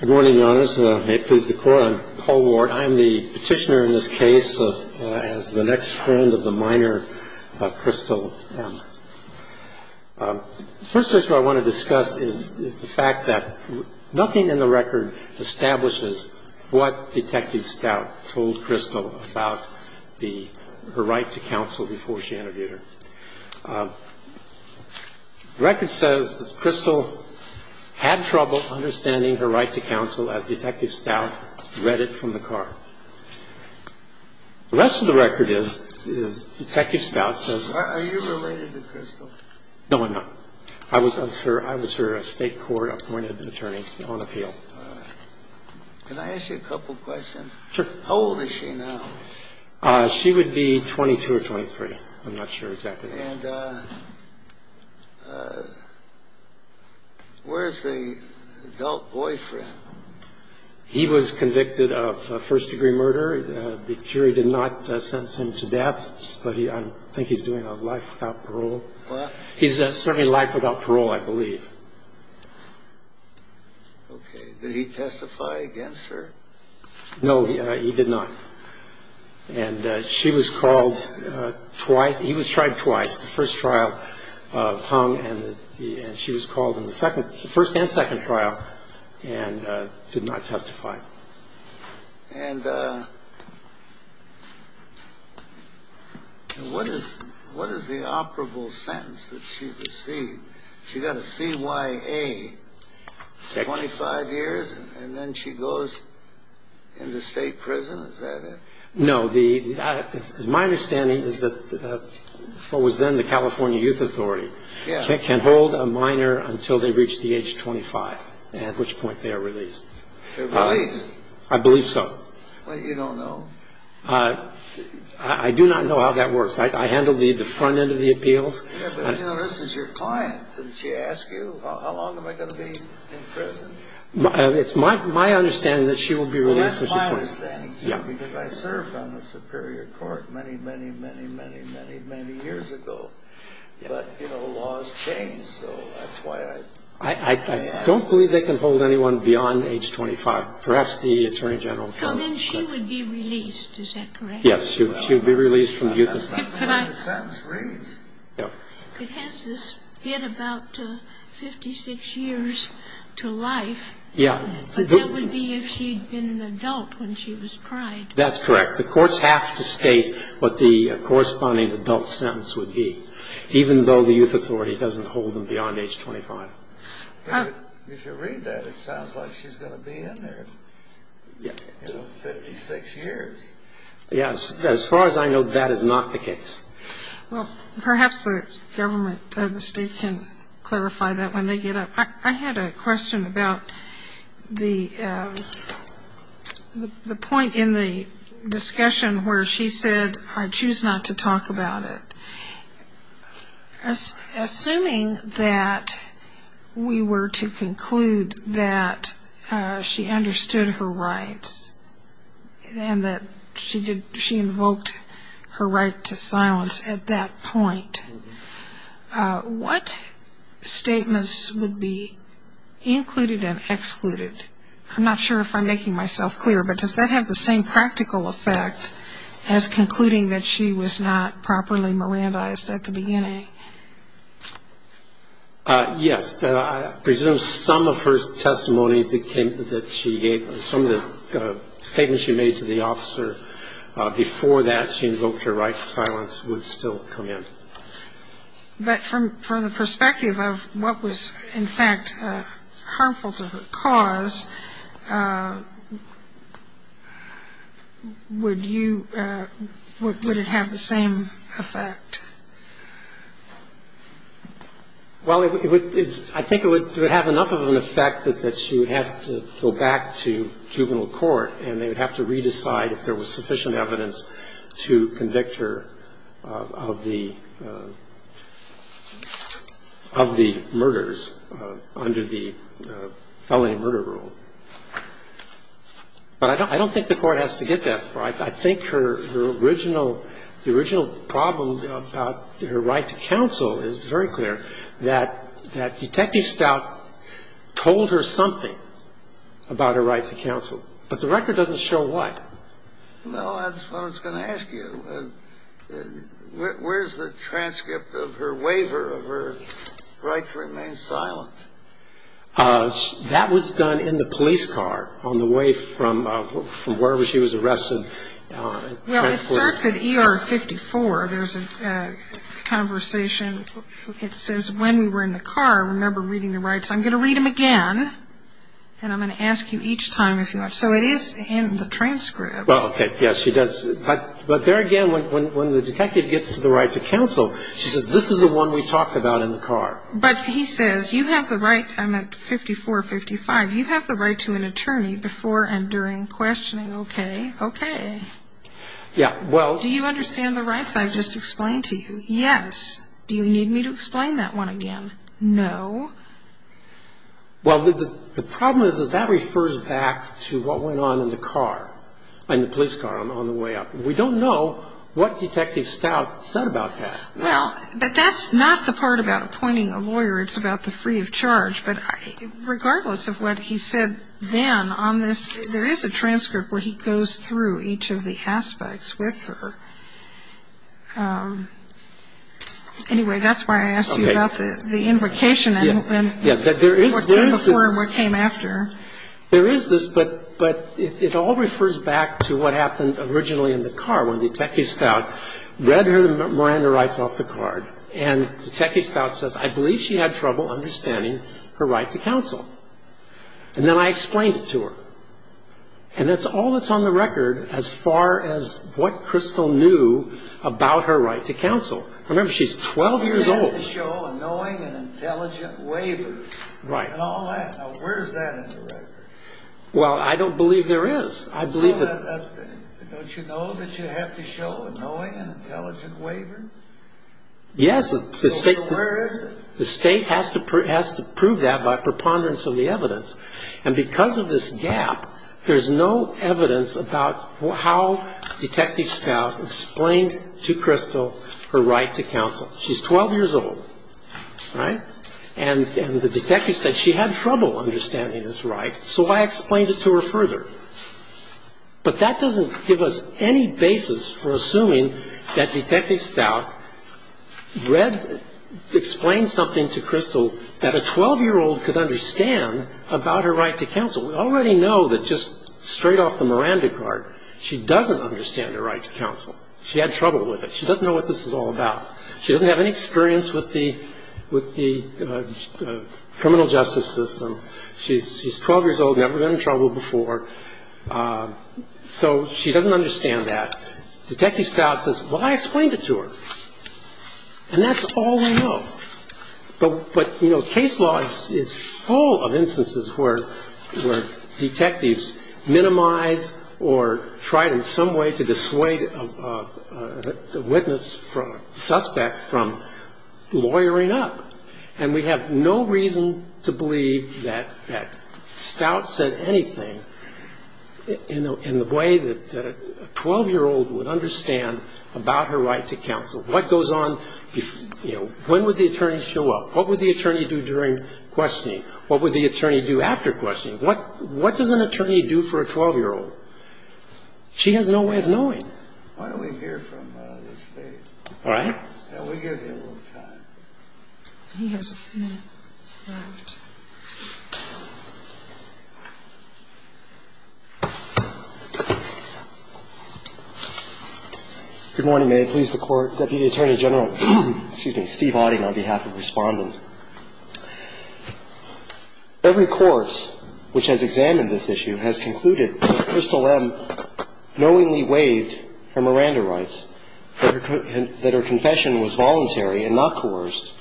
Good morning, Your Honors. May it please the Court, I'm Paul Ward. I am the petitioner in this case as the next friend of the minor, Crystal Emma. The first issue I want to discuss is the fact that nothing in the record establishes what Detective Stout told Crystal about her right to counsel before she interviewed her. The record says that Crystal had trouble understanding her right to counsel as Detective Stout read it from the car. The rest of the record is Detective Stout says... Are you related to Crystal? No, I'm not. I was her State Court appointed attorney on appeal. Can I ask you a couple questions? Sure. How old is she now? She would be 22 or 23. I'm not sure exactly. And where's the adult boyfriend? He was convicted of first-degree murder. The jury did not sentence him to death, but I think he's doing a life without parole. He's certainly life without parole, I believe. Okay. Did he testify against her? No, he did not. And she was called twice. He was tried twice. The first trial hung and she was called in the first and second trial and did not testify. And what is the operable sentence that she received? She got a CYA, 25 years, and then she goes into state prison? Is that it? No. My understanding is that what was then the California Youth Authority can hold a minor until they reach the age of 25, at which point they are released. They're released? I believe so. You don't know? I do not know how that works. I handle the front end of the appeals. Yeah, but this is your client. Didn't she ask you, how long am I going to be in prison? It's my understanding that she will be released at this point. Well, that's my understanding, too, because I served on the Superior Court many, many, many, many, many, many years ago. But, you know, laws change, so that's why I ask. I don't believe they can hold anyone beyond age 25. Perhaps the Attorney General can. So then she would be released, is that correct? Yes, she would be released from the youth authority. But that's not the way the sentence reads. It has this bit about 56 years to life. Yeah. But that would be if she'd been an adult when she was tried. That's correct. The courts have to state what the corresponding adult sentence would be, even though the youth authority doesn't hold them beyond age 25. But if you read that, it sounds like she's going to be in there, you know, 56 years. Yes. As far as I know, that is not the case. Well, perhaps the government or the state can clarify that when they get up. I had a question about the point in the discussion where she said, I choose not to talk about it. Assuming that we were to conclude that she understood her rights and that she invoked her right to silence at that point, what statements would be included and excluded? I'm not sure if I'm making myself clear, but does that have the same practical effect as concluding that she was not properly Mirandized at the beginning? Yes. I presume some of her testimony that she gave, some of the statements she made to the officer before that she invoked her right to silence would still come in. But from the perspective of what was, in fact, harmful to her cause, would you – would it have the same effect? Well, I think it would have enough of an effect that she would have to go back to juvenile court and they would have to re-decide if there was sufficient evidence to convict her of the murders under the felony murder rule. But I don't think the Court has to get that far. I think her original – the original problem about her right to counsel is very clear, that Detective Stout told her something about her right to counsel. But the record doesn't show what. Well, that's what I was going to ask you. Where's the transcript of her waiver of her right to remain silent? That was done in the police car on the way from wherever she was arrested. Well, it starts at ER 54. There's a conversation. It says, when we were in the car, remember reading the rights. I'm going to read them again, and I'm going to ask you each time if you want. So it is in the transcript. Well, okay, yes, she does. But there again, when the detective gets to the right to counsel, she says, this is the one we talked about in the car. But he says, you have the right – I'm at 54, 55. You have the right to an attorney before and during questioning. Okay, okay. Yeah, well – Do you understand the rights I've just explained to you? Yes. Do you need me to explain that one again? No. Well, the problem is that that refers back to what went on in the car, in the police car on the way up. We don't know what Detective Stout said about that. Well, but that's not the part about appointing a lawyer. It's about the free of charge. But regardless of what he said then on this, there is a transcript where he goes through each of the aspects with her. Anyway, that's why I asked you about the invocation and what came before and what came after. There is this, but it all refers back to what happened originally in the car when Detective Stout read her Miranda rights off the card. And Detective Stout says, I believe she had trouble understanding her right to counsel. And then I explained it to her. And that's all that's on the record as far as what Crystal knew about her right to counsel. Remember, she's 12 years old. You have to show a knowing and intelligent waiver and all that. Now, where is that in the record? Well, I don't believe there is. Don't you know that you have to show a knowing and intelligent waiver? Yes. So where is it? The state has to prove that by preponderance of the evidence. And because of this gap, there is no evidence about how Detective Stout explained to Crystal her right to counsel. She's 12 years old, right? And the detective said she had trouble understanding this right, so I explained it to her further. But that doesn't give us any basis for assuming that Detective Stout read, explained something to Crystal that a 12-year-old could understand about her right to counsel. We already know that just straight off the Miranda card, she doesn't understand her right to counsel. She had trouble with it. She doesn't know what this is all about. She doesn't have any experience with the criminal justice system. She's 12 years old, never been in trouble before. So she doesn't understand that. Detective Stout says, well, I explained it to her. And that's all we know. But, you know, case law is full of instances where detectives minimize or try in some way to dissuade a witness, suspect, from lawyering up. And we have no reason to believe that Stout said anything in the way that a 12-year-old would understand about her right to counsel. What goes on? You know, when would the attorney show up? What would the attorney do during questioning? What would the attorney do after questioning? What does an attorney do for a 12-year-old? She has no way of knowing. All right. He has a minute left. Good morning. May it please the Court. Deputy Attorney General, excuse me, Steve Auding, on behalf of the Respondent. Every course which has examined this issue has concluded that Crystal M. knowingly waived her Miranda rights, that her confession was voluntary and not coerced,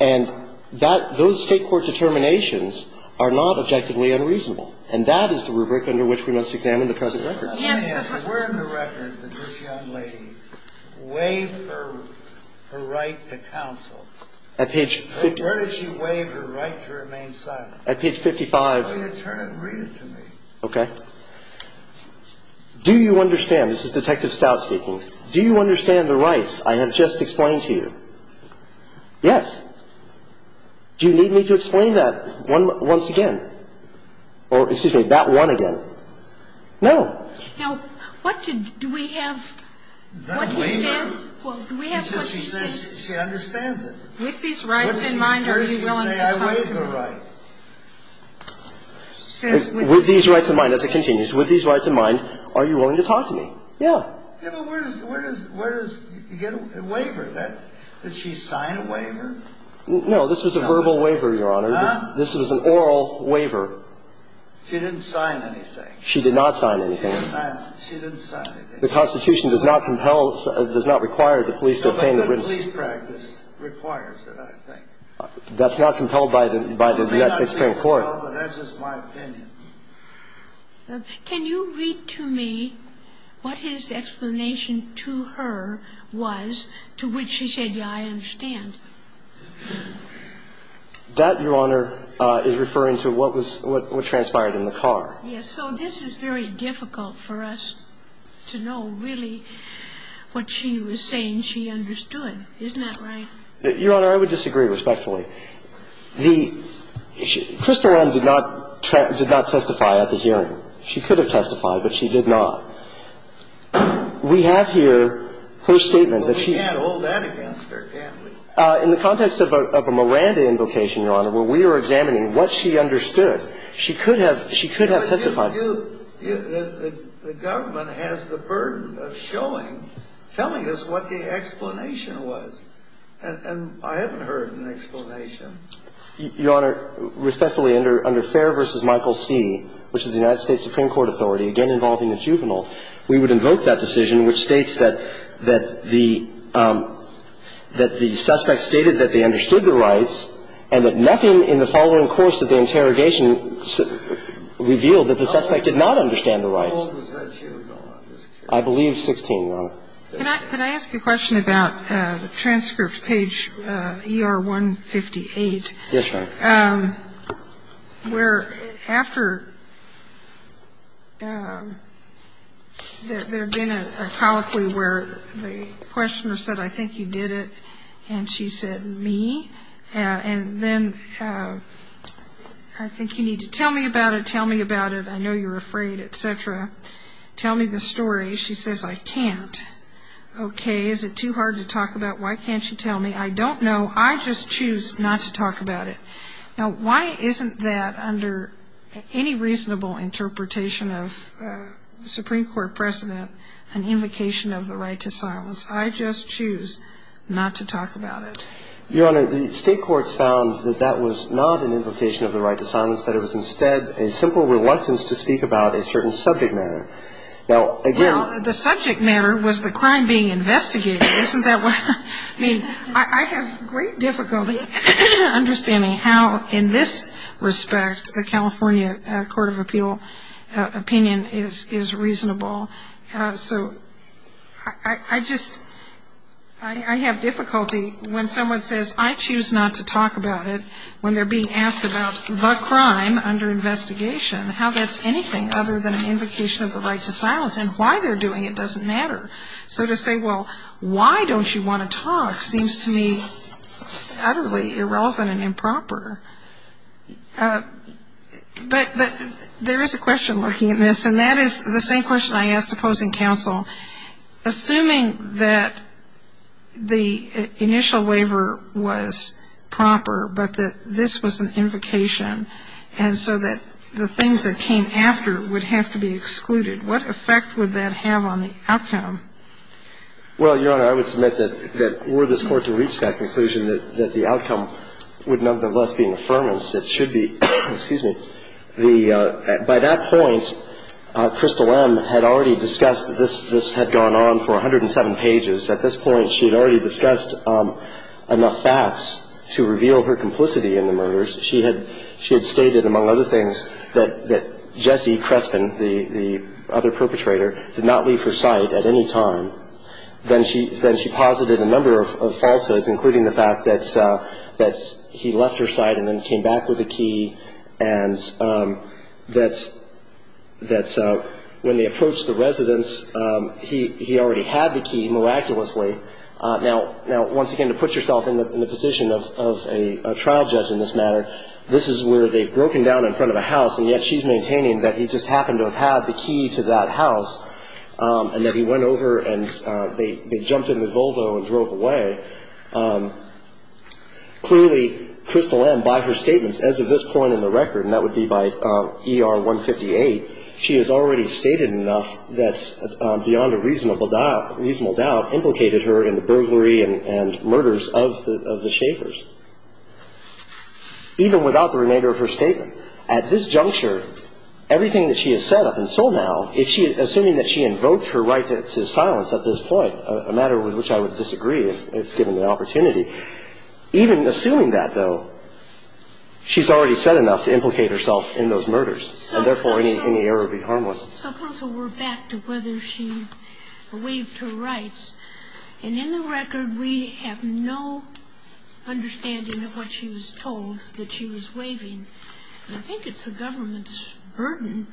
and that those State court determinations are not objectively unreasonable. And that is the rubric under which we must examine the present record. Yes. Where in the record did this young lady waive her right to counsel? At page 50. Where did she waive her right to remain silent? At page 55. Will you turn and read it to me? Okay. Do you understand? This is Detective Stout speaking. Do you understand the rights I have just explained to you? Yes. Do you need me to explain that once again? Or, excuse me, that one again? No. Now, what did we have? That waiver. Well, do we have what she said? She says she understands it. With these rights in mind, are you willing to talk to her? Where did she say I waived her right? With these rights in mind, as it continues, with these rights in mind, are you willing to talk to me? Yeah. Yeah, but where does you get a waiver? Did she sign a waiver? No. This was a verbal waiver, Your Honor. This was an oral waiver. She didn't sign anything. She did not sign anything. She didn't sign anything. The Constitution does not compel, does not require the police to obtain the written. No, but the police practice requires it, I think. That's not compelled by the United States Supreme Court. No, but that's just my opinion. Can you read to me what his explanation to her was to which she said, yeah, I understand? That, Your Honor, is referring to what transpired in the car. Yes. So this is very difficult for us to know really what she was saying she understood. Isn't that right? Your Honor, I would disagree respectfully. The ‑‑ Crystal Oren did not testify at the hearing. She could have testified, but she did not. We have here her statement that she ‑‑ Well, we can't hold that against her, can we? In the context of a Miranda invocation, Your Honor, where we are examining what she understood, she could have testified. The government has the burden of showing, telling us what the explanation was. And I haven't heard an explanation. Your Honor, respectfully, under Fair v. Michael C., which is the United States Supreme Court authority, again involving a juvenile, we would invoke that decision, which states that the ‑‑ that the suspect stated that they understood the rights and that nothing in the following course of the interrogation revealed that the suspect did not understand the rights. How old was that juvenile? I believe 16, Your Honor. Can I ask a question about the transcript, page ER158? Yes, Your Honor. Where after there had been a colloquy where the questioner said, I think you did it, and she said, me? And then, I think you need to tell me about it, tell me about it, I know you're afraid, et cetera. Tell me the story. She says, I can't. Okay. Is it too hard to talk about? Why can't you tell me? I don't know. I just choose not to talk about it. Now, why isn't that under any reasonable interpretation of Supreme Court precedent an invocation of the right to silence? I just choose not to talk about it. Your Honor, the state courts found that that was not an invocation of the right to silence, that it was instead a simple reluctance to speak about a certain subject matter. Now, again ‑‑ Well, the subject matter was the crime being investigated. Isn't that what ‑‑ I mean, I have great difficulty understanding how, in this respect, the California Court of Appeal opinion is reasonable. So I just ‑‑ I have difficulty when someone says, I choose not to talk about it, when they're being asked about the crime under investigation, how that's anything other than an invocation of the right to silence, and why they're doing it doesn't matter. So to say, well, why don't you want to talk, seems to me utterly irrelevant and improper. But there is a question lurking in this, and that is the same question I asked opposing counsel. Assuming that the initial waiver was proper, but that this was an invocation, and so that the things that came after would have to be excluded, what effect would that have on the outcome? Well, Your Honor, I would submit that were this Court to reach that conclusion, that the outcome would nonetheless be an affirmance. It should be ‑‑ excuse me. By that point, Crystal M. had already discussed this. This had gone on for 107 pages. At this point, she had already discussed enough facts to reveal her complicity in the murders. She had stated, among other things, that Jesse Crespin, the other perpetrator, did not leave her sight at any time. Then she posited a number of falsehoods, including the fact that he left her sight and then came back with a key, and that when they approached the residence, he already had the key, miraculously. Now, once again, to put yourself in the position of a trial judge in this matter, this is where they've broken down in front of a house, and yet she's maintaining that he just happened to have had the key to that house, and that he went over and they jumped in the Volvo and drove away. Clearly, Crystal M., by her statements as of this point in the record, and that would be by ER 158, she has already stated enough that's beyond a reasonable doubt implicated her in the burglary and murders of the Schaffers, even without the remainder of her statement. At this juncture, everything that she has said up until now, assuming that she invoked her right to silence at this point, a matter with which I would disagree if given the opportunity, even assuming that, though, she's already said enough to implicate herself in those murders, and therefore any error would be harmless. Supposedly, we're back to whether she waived her rights. And in the record, we have no understanding of what she was told that she was waiving. I think it's the government's burden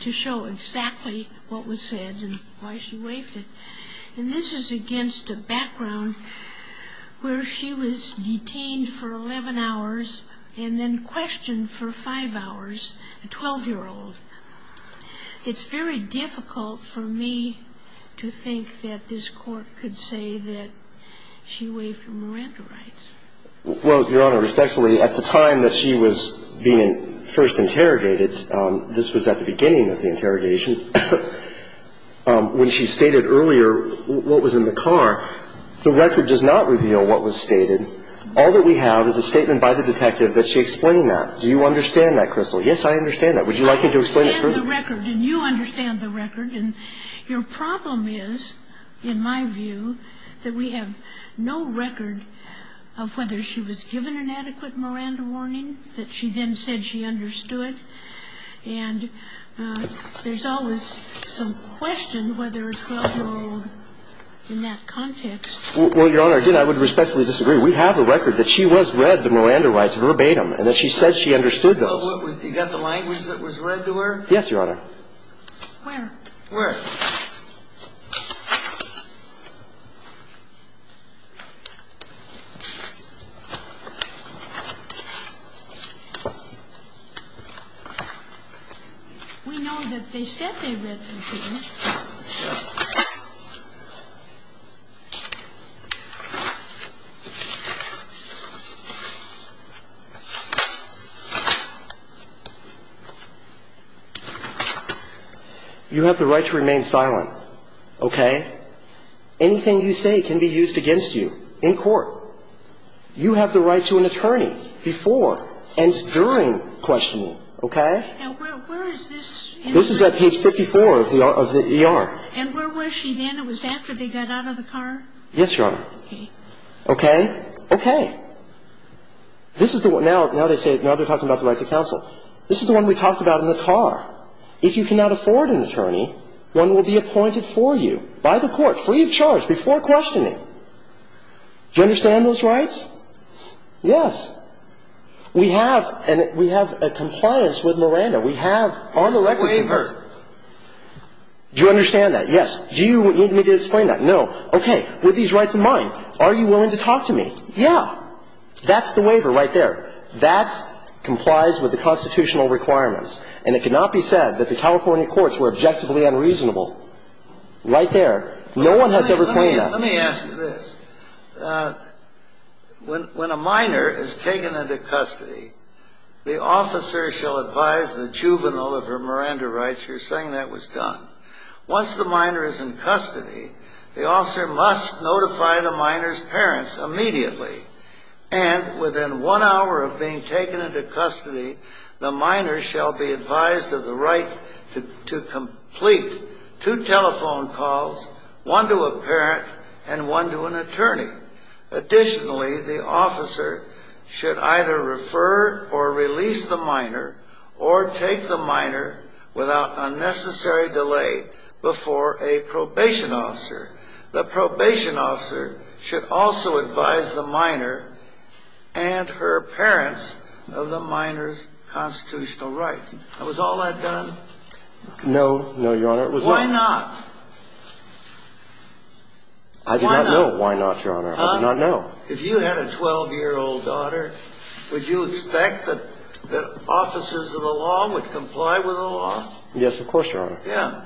to show exactly what was said and why she waived it. And this is against a background where she was detained for 11 hours and then questioned for 5 hours, a 12-year-old. It's very difficult for me to think that this Court could say that she waived her Miranda rights. Well, Your Honor, respectfully, at the time that she was being first interrogated, this was at the beginning of the interrogation, when she stated earlier what was in the car, the record does not reveal what was stated. All that we have is a statement by the detective that she explained that. Do you understand that, Crystal? Yes, I understand that. Would you like me to explain it further? I understand the record, and you understand the record. And your problem is, in my view, that we have no record of whether she was given an adequate Miranda warning that she then said she understood. And there's always some question whether a 12-year-old, in that context. Well, Your Honor, again, I would respectfully disagree. We have a record that she was read the Miranda rights verbatim and that she said she understood those. Well, you got the language that was read to her? Yes, Your Honor. Where? Where? We know that they said they read it to you. You have the right to remain silent, okay? Anything you say can be used against you in court. You have the right to an attorney before and during questioning, okay? And where is this? This is at page 54 of the interrogation. And where was she then? It was after they got out of the car? Yes, Your Honor. Okay. Okay? Okay. This is the one now they say, now they're talking about the right to counsel. This is the one we talked about in the car. If you cannot afford an attorney, one will be appointed for you by the court, free of charge, before questioning. Do you understand those rights? Yes. We have, and we have a compliance with Miranda. That's the waiver. Do you understand that? Yes. Do you need me to explain that? No. Okay. With these rights in mind, are you willing to talk to me? Yeah. That's the waiver right there. That complies with the constitutional requirements. And it cannot be said that the California courts were objectively unreasonable. Right there. No one has ever claimed that. Let me ask you this. When a minor is taken into custody, the officer shall advise the juvenile of her Miranda rights. You're saying that was done. Once the minor is in custody, the officer must notify the minor's parents immediately. And within one hour of being taken into custody, the minor shall be advised of the right to Additionally, the officer should either refer or release the minor or take the minor without unnecessary delay before a probation officer. The probation officer should also advise the minor and her parents of the minor's constitutional rights. Now, was all that done? No. No, Your Honor. Why not? I do not know why not, Your Honor. I do not know. If you had a 12-year-old daughter, would you expect that officers of the law would comply with the law? Yes, of course, Your Honor. Yeah.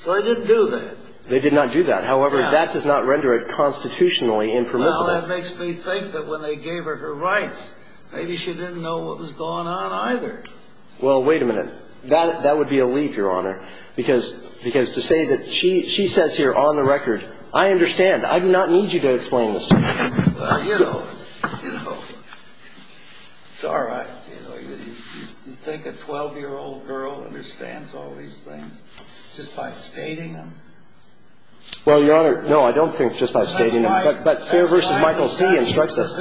So they didn't do that. They did not do that. However, that does not render it constitutionally impermissible. Well, that makes me think that when they gave her her rights, maybe she didn't know what was going on either. Well, wait a minute. That would be a leap, Your Honor. Because to say that she says here on the record, I understand. I do not need you to explain this to me. Well, you know, it's all right. You think a 12-year-old girl understands all these things just by stating them? Well, Your Honor, no, I don't think just by stating them. But Fair v. Michael C. instructs us.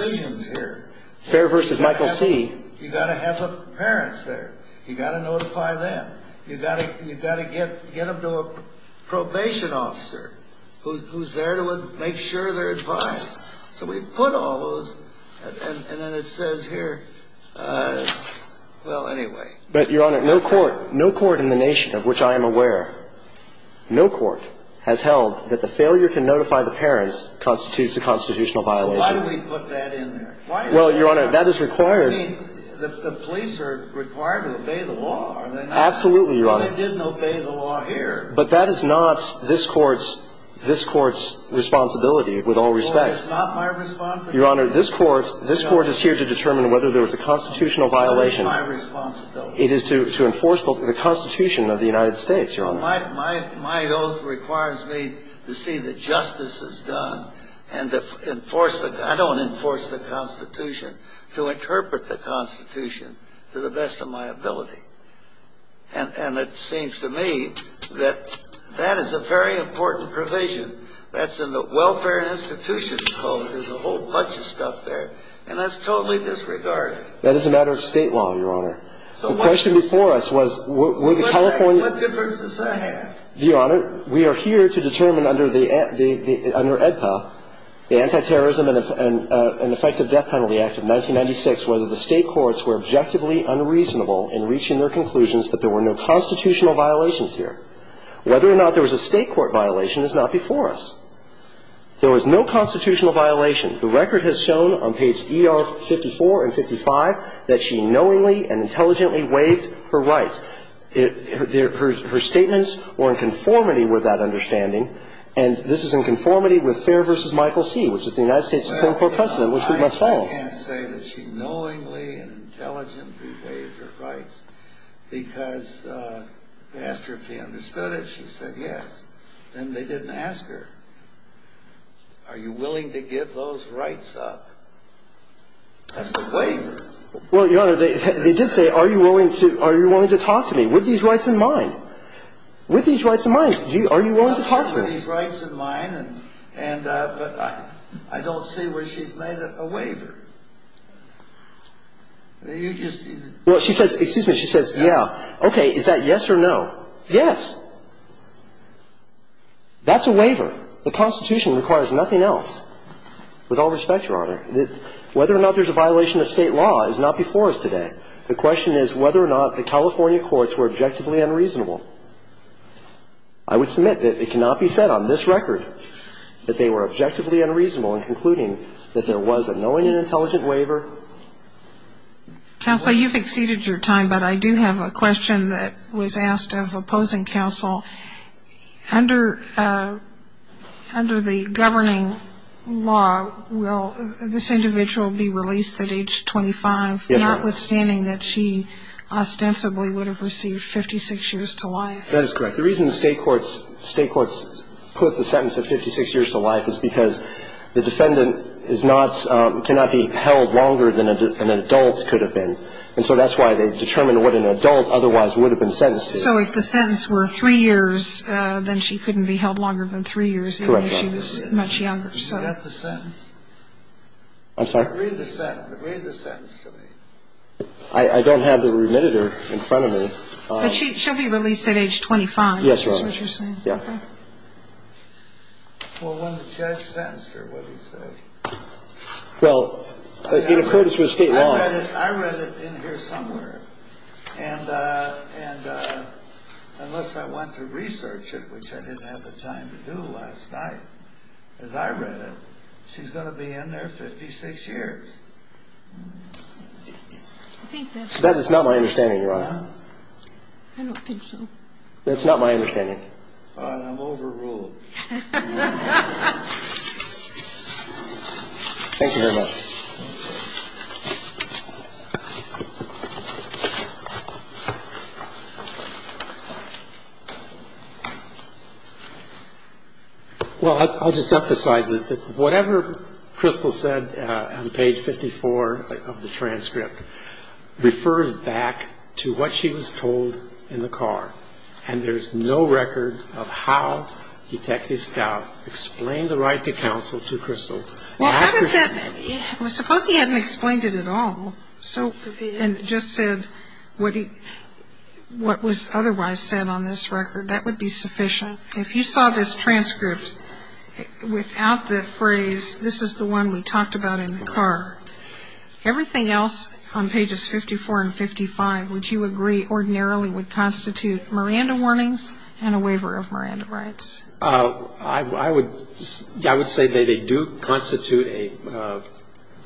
Fair v. Michael C. You've got to have the parents there. You've got to notify them. You've got to get them to a probation officer who's there to make sure they're advised. So we put all those, and then it says here, well, anyway. But, Your Honor, no court in the nation of which I am aware, no court has held that the failure to notify the parents constitutes a constitutional violation. Why do we put that in there? Well, Your Honor, that is required. I mean, the police are required to obey the law. Absolutely, Your Honor. They didn't obey the law here. But that is not this Court's responsibility, with all respect. Well, it's not my responsibility. Your Honor, this Court is here to determine whether there was a constitutional violation. It is my responsibility. It is to enforce the Constitution of the United States, Your Honor. My oath requires me to see that justice is done and to enforce the ‑‑ I don't enforce the Constitution, to interpret the Constitution to the best of my ability. And it seems to me that that is a very important provision. That's in the Welfare and Institutions Code. There's a whole bunch of stuff there. And that's totally disregarded. That is a matter of state law, Your Honor. The question before us was were the California ‑‑ What difference does that make? Your Honor, we are here to determine under the ‑‑ under AEDPA, the Antiterrorism and Effective Death Penalty Act of 1996, whether the State courts were objectively unreasonable in reaching their conclusions that there were no constitutional violations here. Whether or not there was a State court violation is not before us. There was no constitutional violation. The record has shown on page ER54 and 55 that she knowingly and intelligently waived her rights. Her statements were in conformity with that understanding. And this is in conformity with Fair v. Michael C., which is the United States Supreme Court precedent, which we must follow. I can't say that she knowingly and intelligently waived her rights because they asked her if she understood it. She said yes. Then they didn't ask her. Are you willing to give those rights up? That's a waiver. Well, Your Honor, they did say, are you willing to talk to me? With these rights in mind. With these rights in mind, are you willing to talk to me? With these rights in mind, but I don't see where she's made a waiver. You just ‑‑ Well, she says, excuse me, she says, yeah. Okay. Is that yes or no? Yes. That's a waiver. The Constitution requires nothing else. With all respect, Your Honor, whether or not there's a violation of state law is not before us today. The question is whether or not the California courts were objectively unreasonable. I would submit that it cannot be said on this record that they were objectively unreasonable in concluding that there was a knowingly and intelligently waiver. Counsel, you've exceeded your time, but I do have a question that was asked of opposing counsel. Under the governing law, will this individual be released at age 25, notwithstanding that she ostensibly would have received 56 years to life? That is correct. The reason the state courts put the sentence of 56 years to life is because the defendant cannot be held longer than an adult could have been. And so that's why they determined what an adult otherwise would have been sentenced to. So if the sentence were three years, then she couldn't be held longer than three years even if she was much younger. Correct, Your Honor. Is that the sentence? I'm sorry? Read the sentence. Read the sentence to me. I don't have the remitter in front of me. But she'll be released at age 25? Yes, Your Honor. That's what you're saying? Yeah. Okay. Well, when the judge sentenced her, what did he say? Well, in accordance with state law. I read it in here somewhere. And unless I went to research it, which I didn't have the time to do last night as I read it, she's going to be in there 56 years. That is not my understanding, Your Honor. I don't think so. That's not my understanding. Fine. I'm overruling. Thank you very much. Well, I'll just emphasize it. Whatever Crystal said on page 54 of the transcript refers back to what she was told in the car. And there's no record of how Detective Stout explained the right to counsel to Crystal. Well, suppose he hadn't explained it at all and just said what was otherwise said on this record. That would be sufficient. If you saw this transcript without the phrase, this is the one we talked about in the car, everything else on pages 54 and 55, would you agree, ordinarily, would constitute Miranda warnings and a waiver of Miranda rights? I would say they do constitute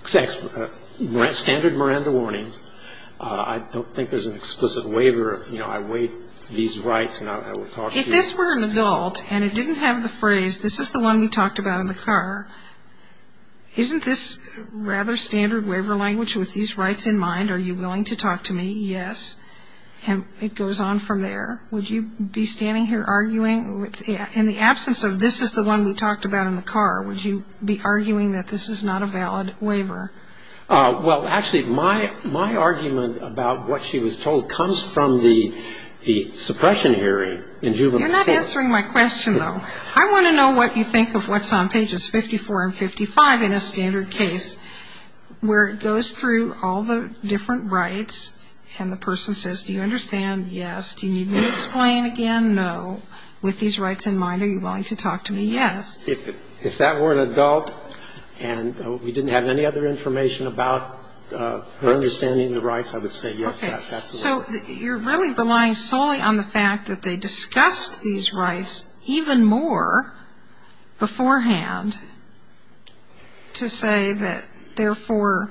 standard Miranda warnings. I don't think there's an explicit waiver. You know, I waive these rights and I will talk to you. If this were an adult and it didn't have the phrase, this is the one we talked about in the car, isn't this rather standard waiver language with these rights in mind? Are you willing to talk to me? Yes. And it goes on from there. Would you be standing here arguing in the absence of this is the one we talked about in the car, would you be arguing that this is not a valid waiver? Well, actually, my argument about what she was told comes from the suppression hearing in juvenile court. You're not answering my question, though. I want to know what you think of what's on pages 54 and 55 in a standard case where it goes through all the different rights and the person says, do you understand? Yes. Do you need me to explain again? No. With these rights in mind, are you willing to talk to me? Yes. If that were an adult and we didn't have any other information about her understanding the rights, I would say yes, that's a waiver. Okay. So you're really relying solely on the fact that they discussed these rights even more beforehand to say that, therefore,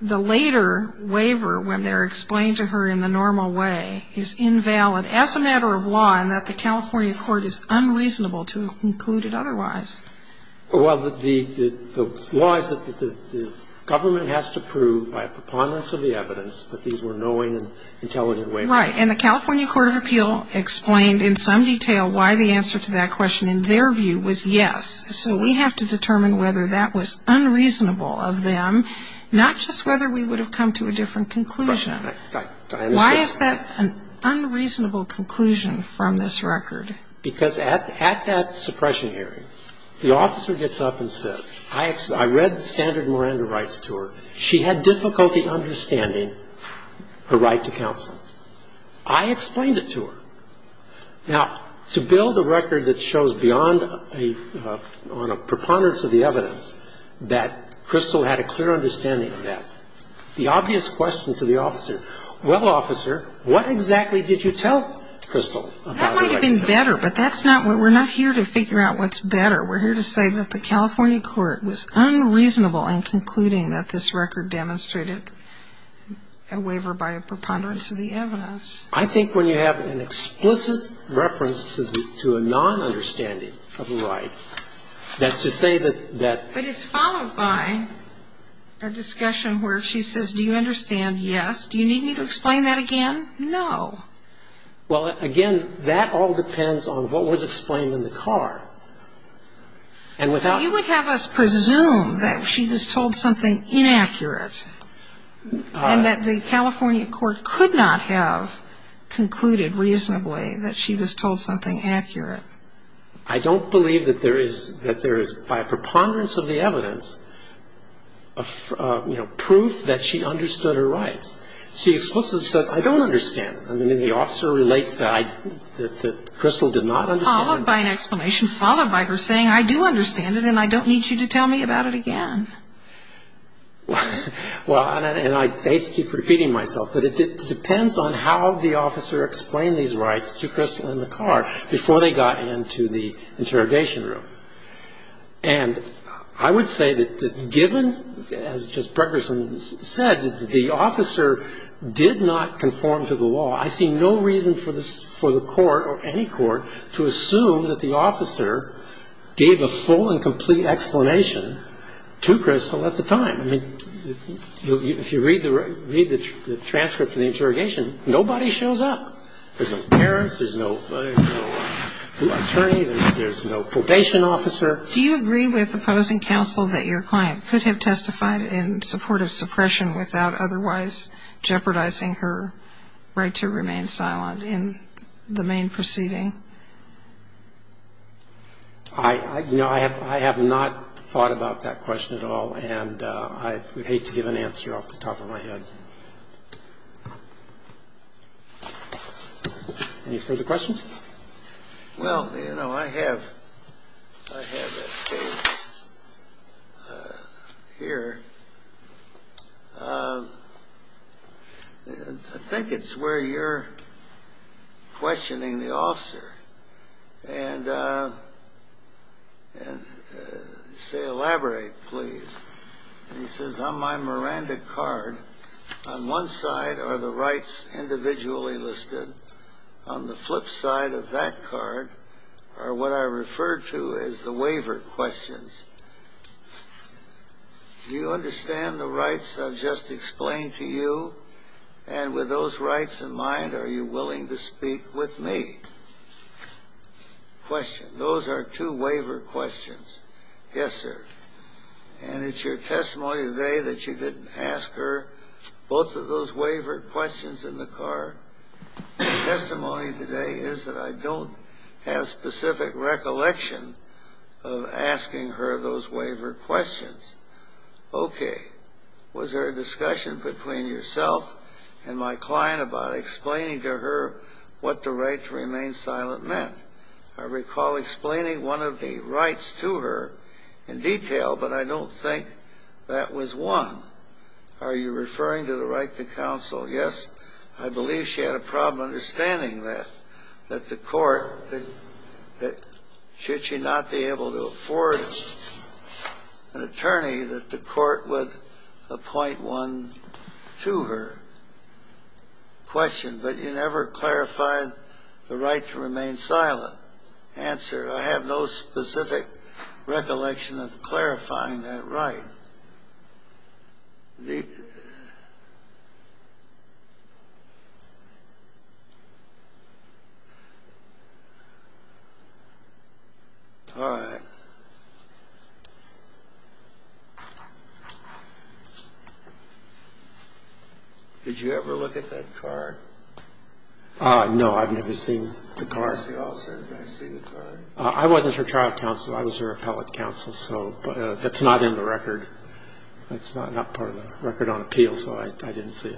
the later waiver, when they're explained to her in the normal way, is invalid as a matter of law and that the California court is unreasonable to include it otherwise? Well, the law is that the government has to prove by preponderance of the evidence that these were knowing and intelligent waivers. Right. And the California court of appeal explained in some detail why the answer to that question, in their view, was yes. So we have to determine whether that was unreasonable of them, not just whether we would have come to a different conclusion. I understand. Why is that an unreasonable conclusion from this record? Because at that suppression hearing, the officer gets up and says, I read the standard Miranda rights to her. She had difficulty understanding her right to counsel. I explained it to her. Now, to build a record that shows beyond a preponderance of the evidence that Crystal had a clear understanding of that, the obvious question to the officer, well, officer, what exactly did you tell Crystal about the rights? That might have been better, but we're not here to figure out what's better. We're here to say that the California court was unreasonable in concluding that this record demonstrated a waiver by a preponderance of the evidence. I think when you have an explicit reference to a non-understanding of a right, that to say that that But it's followed by a discussion where she says, do you understand? Yes. Do you need me to explain that again? No. Well, again, that all depends on what was explained in the card. And without So you would have us presume that she was told something inaccurate and that the California court could not have concluded reasonably that she was told something accurate. I don't believe that there is, by a preponderance of the evidence, proof that she understood her rights. She explicitly says, I don't understand. And then the officer relates that Crystal did not understand. Followed by an explanation, followed by her saying, I do understand it Well, and I hate to keep repeating myself, but it depends on how the officer explained these rights to Crystal in the car before they got into the interrogation room. And I would say that given, as Justice Bregerson said, that the officer did not conform to the law, I see no reason for the court or any court to assume that the officer gave a full and complete explanation to Crystal at the time. I mean, if you read the transcript of the interrogation, nobody shows up. There's no parents. There's no attorney. There's no probation officer. Do you agree with opposing counsel that your client could have testified in support of suppression without otherwise jeopardizing her right to remain silent in the main proceeding? I have not thought about that question at all, and I would hate to give an answer off the top of my head. Any further questions? Well, you know, I have a page here. I think it's where you're questioning the officer, and you say, elaborate, please. And he says, on my Miranda card, on one side are the rights individually listed. On the flip side of that card are what I refer to as the waiver questions. Do you understand the rights I've just explained to you? And with those rights in mind, are you willing to speak with me? Question. Those are two waiver questions. Yes, sir. And it's your testimony today that you didn't ask her both of those waiver questions in the card. My testimony today is that I don't have specific recollection of asking her those waiver questions. Okay. Was there a discussion between yourself and my client about explaining to her what the right to remain silent meant? I recall explaining one of the rights to her in detail, but I don't think that was one. Are you referring to the right to counsel? Yes. I believe she had a problem understanding that, that the court, that should she not be able to afford an attorney, that the court would appoint one to her. Question. But you never clarified the right to remain silent. Answer. I have no specific recollection of clarifying that right. All right. Did you ever look at that card? No, I've never seen the card. I wasn't her trial counsel. I was her appellate counsel, so that's not in the record. That's not part of the record on appeals, so I didn't see it.